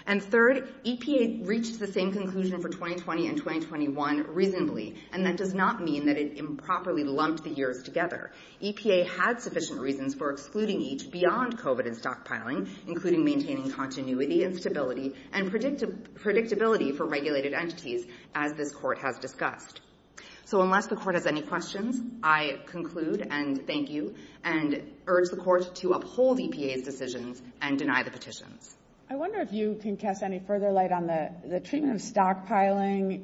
And third, EPA reached the same conclusion for 2020 and 2021 reasonably, and that does not mean that it improperly lumped the years together. EPA had sufficient reasons for excluding each beyond COVID and stockpiling, including maintaining continuity and stability and predictability for regulated entities, as this court has discussed. So unless the court has any questions, I conclude and thank you and urge the court to uphold EPA's decisions and deny the petitions. I wonder if you can cast any further light on the treatment of stockpiling.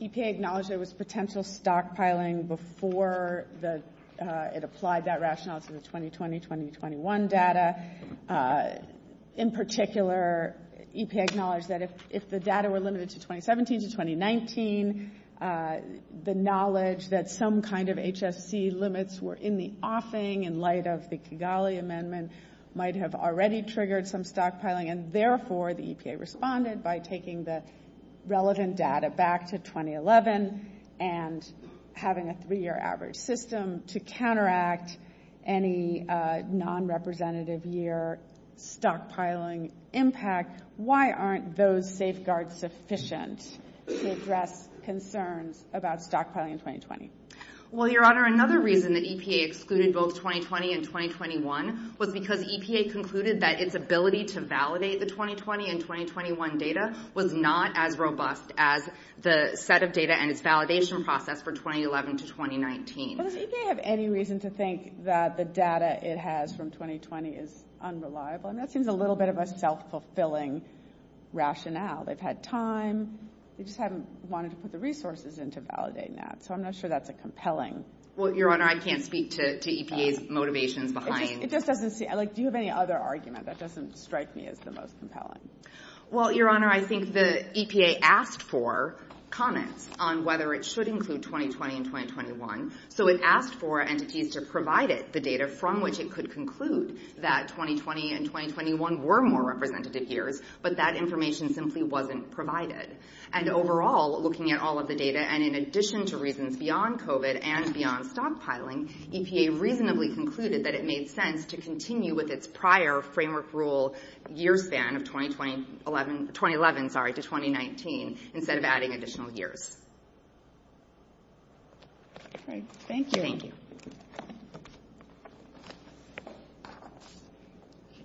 EPA acknowledged there was potential stockpiling before it applied that rationale to the 2020-2021 data. In particular, EPA acknowledged that if the data were limited to 2017 to 2019, the knowledge that some kind of HFC limits were in the offing in light of the Kigali Amendment might have already triggered some stockpiling, and therefore the EPA responded by taking the relevant data back to 2011 and having a three-year average system to counteract any non-representative year stockpiling impact. Why aren't those safeguards sufficient to address concerns about stockpiling in 2020? Well, Your Honor, another reason that EPA excluded both 2020 and 2021 was because EPA concluded that its ability to validate the 2020 and 2021 data was not as robust as the set of data and its validation process for 2011 to 2019. Well, does EPA have any reason to think that the data it has from 2020 is unreliable? I mean, that seems a little bit of a self-fulfilling rationale. They've had time. They just haven't wanted to put the resources in to validate that, so I'm not sure that's a compelling... Well, Your Honor, I can't speak to EPA's motivations behind... It just doesn't seem... Do you have any other argument that doesn't strike me as the most compelling? Well, Your Honor, I think the EPA asked for comments on whether it should include 2020 and 2021, so it asked for entities to provide it the data from which it could conclude that 2020 and 2021 were more representative years, but that information simply wasn't provided. And overall, looking at all of the data, and in addition to reasons beyond COVID and beyond stockpiling, EPA reasonably concluded that it made sense to continue with its prior framework rule year span of 2011 to 2019 instead of adding additional years. All right. Thank you. Thank you.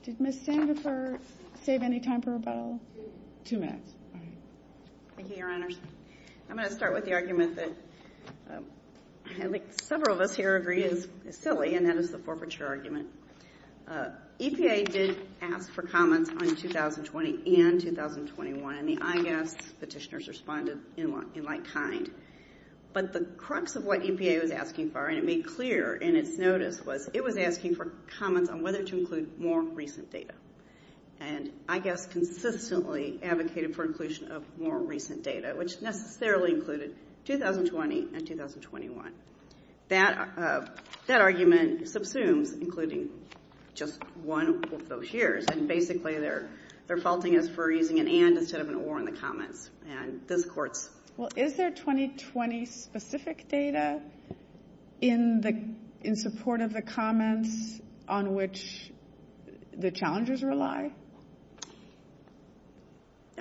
Did Ms. Sandifer save any time for rebuttal? Two minutes. All right. Thank you, Your Honors. I'm going to start with the argument that at least several of us here agree is silly, and that is the forfeiture argument. EPA did ask for comments on 2020 and 2021, and the IGAS petitioners responded in like kind. But the crux of what EPA was asking for, and it made clear in its notice, was it was asking for comments on whether to include more recent data. And IGAS consistently advocated for inclusion of more recent data, which necessarily included 2020 and 2021. That argument subsumes including just one of those years, and basically they're faulting us for using an and instead of an or in the comments. Well, is there 2020 specific data in support of the comments on which the challenges rely?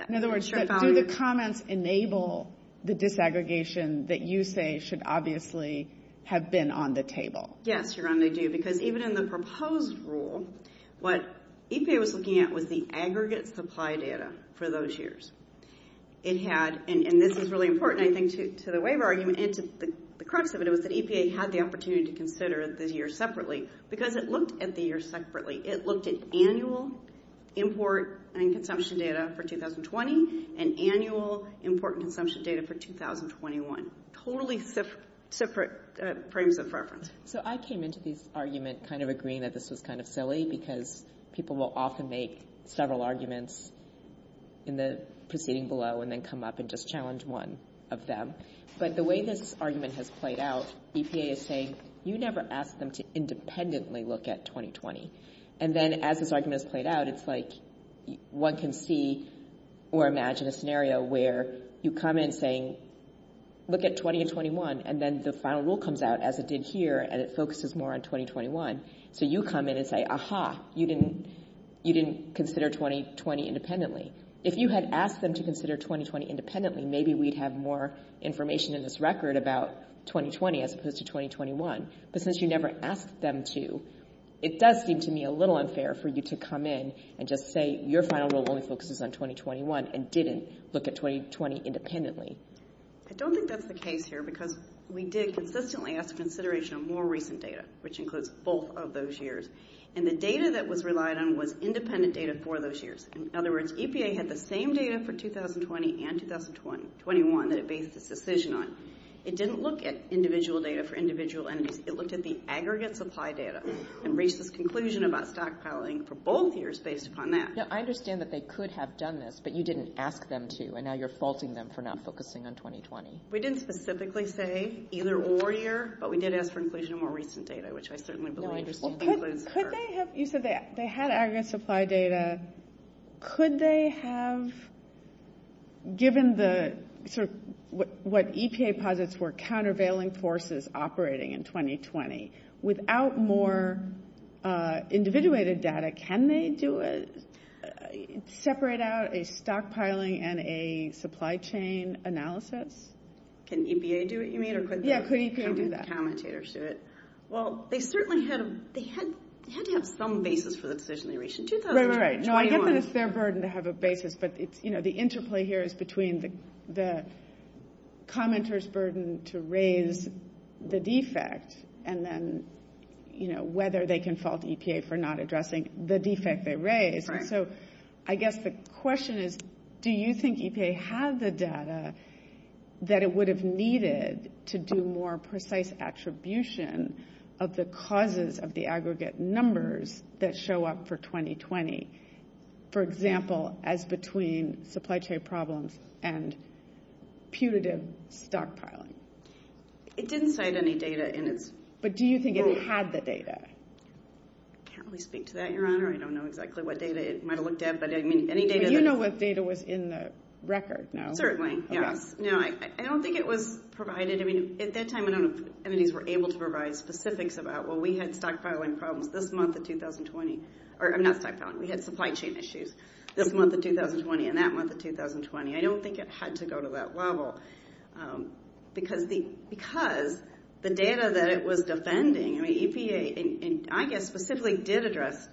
In other words, do the comments enable the disaggregation that you say should obviously have been on the table? Yes, Your Honor, they do, because even in the proposed rule, what EPA was looking at was the aggregate supply data for those years. It had, and this is really important, I think, to the waiver argument and to the crux of it, it was that EPA had the opportunity to consider the years separately, because it looked at the years separately. It looked at annual import and consumption data for 2020 and annual import and consumption data for 2021. Totally separate frames of reference. So I came into this argument kind of agreeing that this was kind of silly, because people will often make several arguments in the proceeding below and then come up and just challenge one of them. But the way this argument has played out, EPA is saying, you never asked them to independently look at 2020. And then as this argument is played out, it's like one can see or imagine a scenario where you come in saying, look at 20 and 21. And then the final rule comes out, as it did here, and it focuses more on 2021. So you come in and say, aha, you didn't consider 2020 independently. If you had asked them to consider 2020 independently, maybe we'd have more information in this record about 2020 as opposed to 2021. But since you never asked them to, it does seem to me a little unfair for you to come in and just say your final rule only focuses on 2021 and didn't look at 2020 independently. I don't think that's the case here, because we did consistently ask consideration of more recent data, which includes both of those years. And the data that was relied on was independent data for those years. In other words, EPA had the same data for 2020 and 2021 that it based its decision on. It didn't look at individual data for individual entities. It looked at the aggregate supply data and reached this conclusion about stockpiling for both years based upon that. No, I understand that they could have done this, but you didn't ask them to. And now you're faulting them for not focusing on 2020. We didn't specifically say either or year, but we did ask for inclusion of more recent data, which I certainly believe includes her. You said they had aggregate supply data. Could they have, given what EPA posits were countervailing forces operating in 2020, without more individuated data, can they separate out a stockpiling and a supply chain analysis? Can EPA do it, you mean? Yeah, could EPA do that? Or could the commentators do it? Well, they certainly had to have some basis for the decision they reached in 2020. Right, right, right. No, I get that it's their burden to have a basis, but the interplay here is between the commentator's burden to raise the defect and then whether they can fault EPA for not addressing the defect they raised. I guess the question is, do you think EPA had the data that it would have needed to do more precise attribution of the causes of the aggregate numbers that show up for 2020? For example, as between supply chain problems and putative stockpiling. It didn't cite any data in its report. But do you think it had the data? I can't really speak to that, Your Honor. I don't know exactly what data it might have looked at, but I mean, any data that... You know what data was in the record, no? Certainly, yes. No, I don't think it was provided. I mean, at that time, I don't know if entities were able to provide specifics about, well, we had stockpiling problems this month of 2020. Or, not stockpiling. We had supply chain issues this month of 2020 and that month of 2020. I don't think it had to go to that level. Because the data that it was defending... I mean, EPA, I guess, specifically did address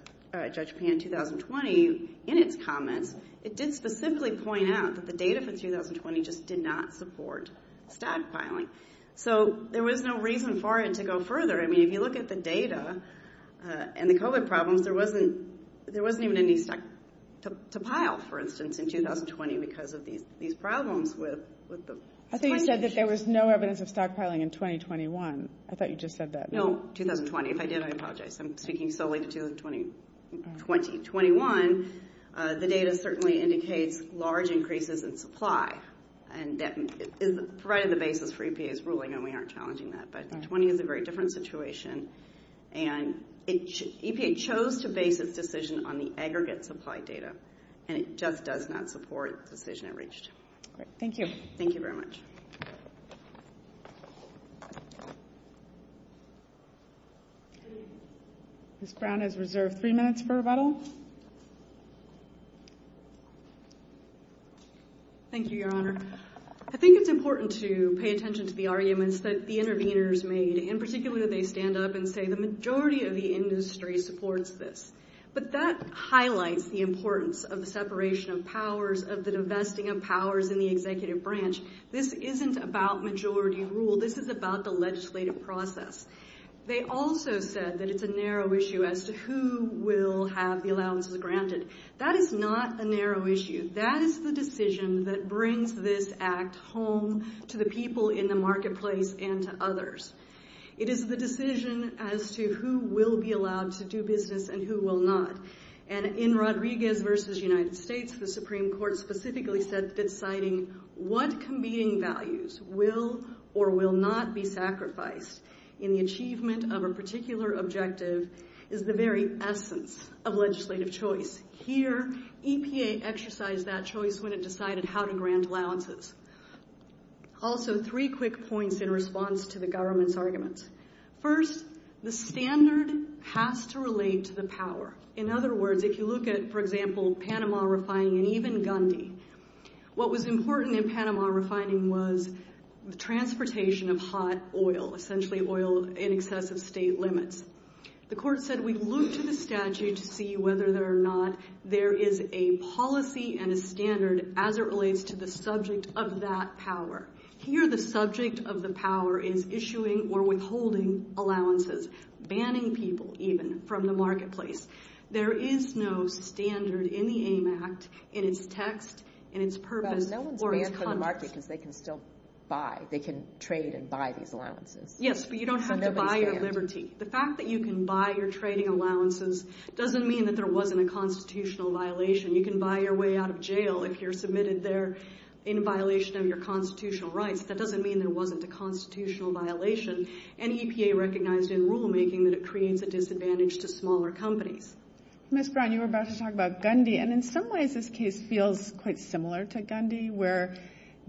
Judge Pan in 2020 in its comments. It did specifically point out that the data for 2020 just did not support stockpiling. So, there was no reason for it to go further. I mean, if you look at the data and the COVID problems, there wasn't even any stock to pile, for instance, in 2020 because of these problems with... I thought you said that there was no evidence of stockpiling in 2021. I thought you just said that. No, 2020. If I did, I apologize. I'm speaking solely to 2020. In 2021, the data certainly indicates large increases in supply. And that is right on the basis for EPA's ruling, and we aren't challenging that. But 2020 is a very different situation. And EPA chose to base its decision on the aggregate supply data. And it just does not support the decision it reached. Great. Thank you. Thank you very much. Ms. Brown has reserved three minutes for rebuttal. Thank you, Your Honor. I think it's important to pay attention to the arguments that the interveners made, and particularly that they stand up and say the majority of the industry supports this. But that highlights the importance of the separation of powers, of the divesting of powers in the executive branch. This isn't about majority rule. This is about the legislative process. They also said that it's a narrow issue as to who will have the allowances granted. That is not a narrow issue. That is the decision that brings this act home to the people in the marketplace and to others. It is the decision as to who will be allowed to do business and who will not. And in Rodriguez v. United States, the Supreme Court specifically said that citing what competing values will or will not be sacrificed in the achievement of a particular objective is the very essence of legislative choice. Here, EPA exercised that choice when it decided how to grant allowances. Also, three quick points in response to the government's arguments. First, the standard has to relate to the power. In other words, if you look at, for example, Panama refining and even Gundy, what was important in Panama refining was the transportation of hot oil, essentially oil in excess of state limits. The court said we look to the statute to see whether or not there is a policy and a standard as it relates to the subject of that power. Here, the subject of the power is issuing or withholding allowances, banning people even from the marketplace. There is no standard in the AIM Act in its text, in its purpose, or its context. But no one's banned from the market because they can still buy. They can trade and buy these allowances. Yes, but you don't have to buy at liberty. The fact that you can buy your trading allowances doesn't mean that there wasn't a constitutional violation. You can buy your way out of jail if you're submitted there in violation of your constitutional rights. That doesn't mean there wasn't a constitutional violation. And EPA recognized in rulemaking that it creates a disadvantage to smaller companies. Ms. Brown, you were about to talk about Gundy, and in some ways this case feels quite similar to Gundy, where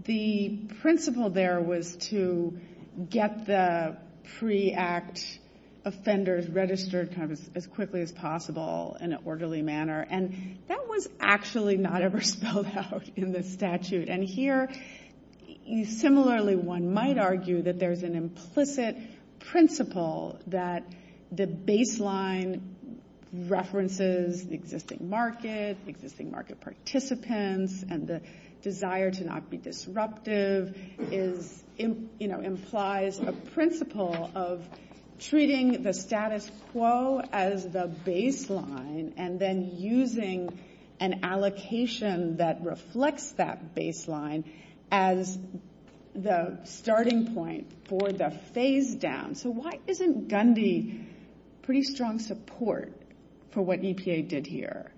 the principle there was to get the pre-act offenders registered as quickly as possible in an orderly manner. And that was actually not ever spelled out in the statute. And here, similarly, one might argue that there's an implicit principle that the baseline references the existing market, existing market participants, and the desire to not be disruptive implies a principle of treating the status quo as the baseline and then using an allocation that reflects that baseline as the starting point for the phase down. So why isn't Gundy pretty strong support for what EPA did here?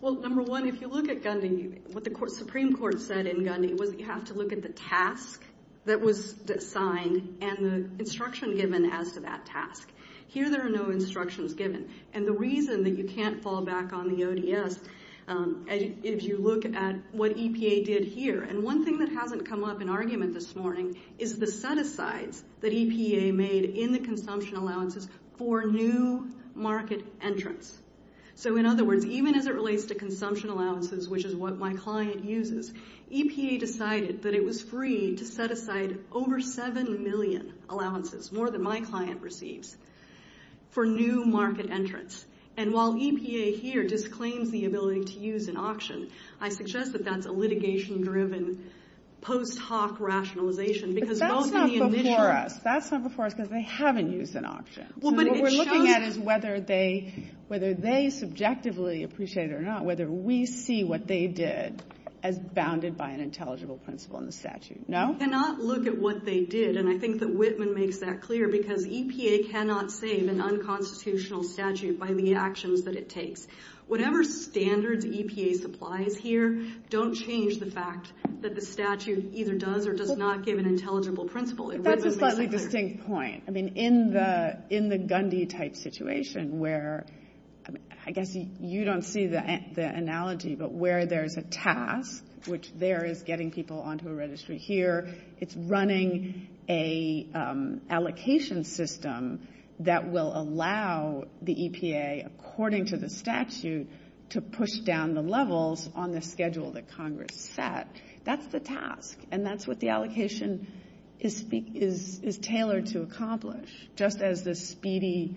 Well, number one, if you look at Gundy, what the Supreme Court said in Gundy was you have to look at the task that was assigned and the instruction given as to that task. Here there are no instructions given. And the reason that you can't fall back on the ODS, if you look at what EPA did here, and one thing that hasn't come up in argument this morning is the set-asides that EPA made in the consumption allowances for new market entrants. So in other words, even as it relates to consumption allowances, which is what my client uses, EPA decided that it was free to set aside over 7 million allowances, more than my client receives, for new market entrants. And while EPA here disclaims the ability to use an auction, I suggest that that's a litigation-driven post hoc rationalization. But that's not before us. That's not before us because they haven't used an auction. What we're looking at is whether they subjectively appreciate it or not, whether we see what they did as bounded by an intelligible principle in the statute. No? We cannot look at what they did, and I think that Whitman makes that clear, because EPA cannot save an unconstitutional statute by the actions that it takes. Whatever standards EPA supplies here don't change the fact that the statute either does or does not give an intelligible principle. That's a slightly distinct point. I mean, in the Gundy-type situation where, I guess you don't see the analogy, but where there's a task, which there is getting people onto a registry here, it's running an allocation system that will allow the EPA, according to the statute, to push down the levels on the schedule that Congress set. That's the task, and that's what the allocation is tailored to accomplish, just as the speedy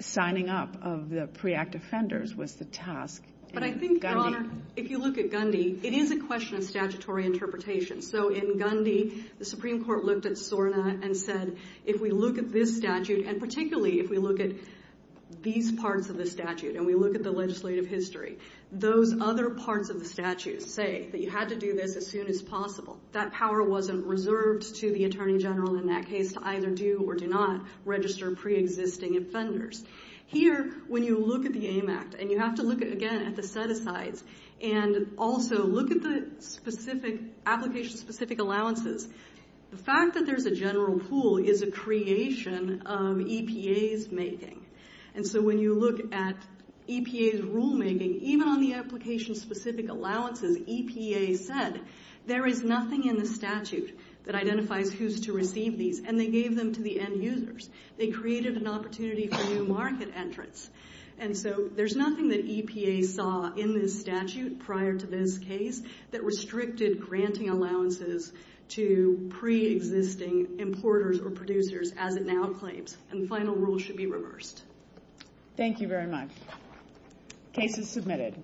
signing up of the pre-act offenders was the task in Gundy. But I think, Your Honor, if you look at Gundy, it is a question of statutory interpretation. So in Gundy, the Supreme Court looked at SORNA and said, if we look at this statute, and particularly if we look at these parts of the statute, and we look at the legislative history, those other parts of the statute say that you had to do this as soon as possible. That power wasn't reserved to the Attorney General in that case to either do or do not register pre-existing offenders. Here, when you look at the AIM Act, and you have to look, again, at the set-asides, and also look at the application-specific allowances, the fact that there's a general pool is a creation of EPA's making. And so when you look at EPA's rulemaking, even on the application-specific allowances, EPA said there is nothing in the statute that identifies who's to receive these, and they gave them to the end users. They created an opportunity for new market entrants. And so there's nothing that EPA saw in this statute prior to this case that restricted granting allowances to pre-existing importers or producers as it now claims, and the final rule should be reversed. Thank you very much. Case is submitted.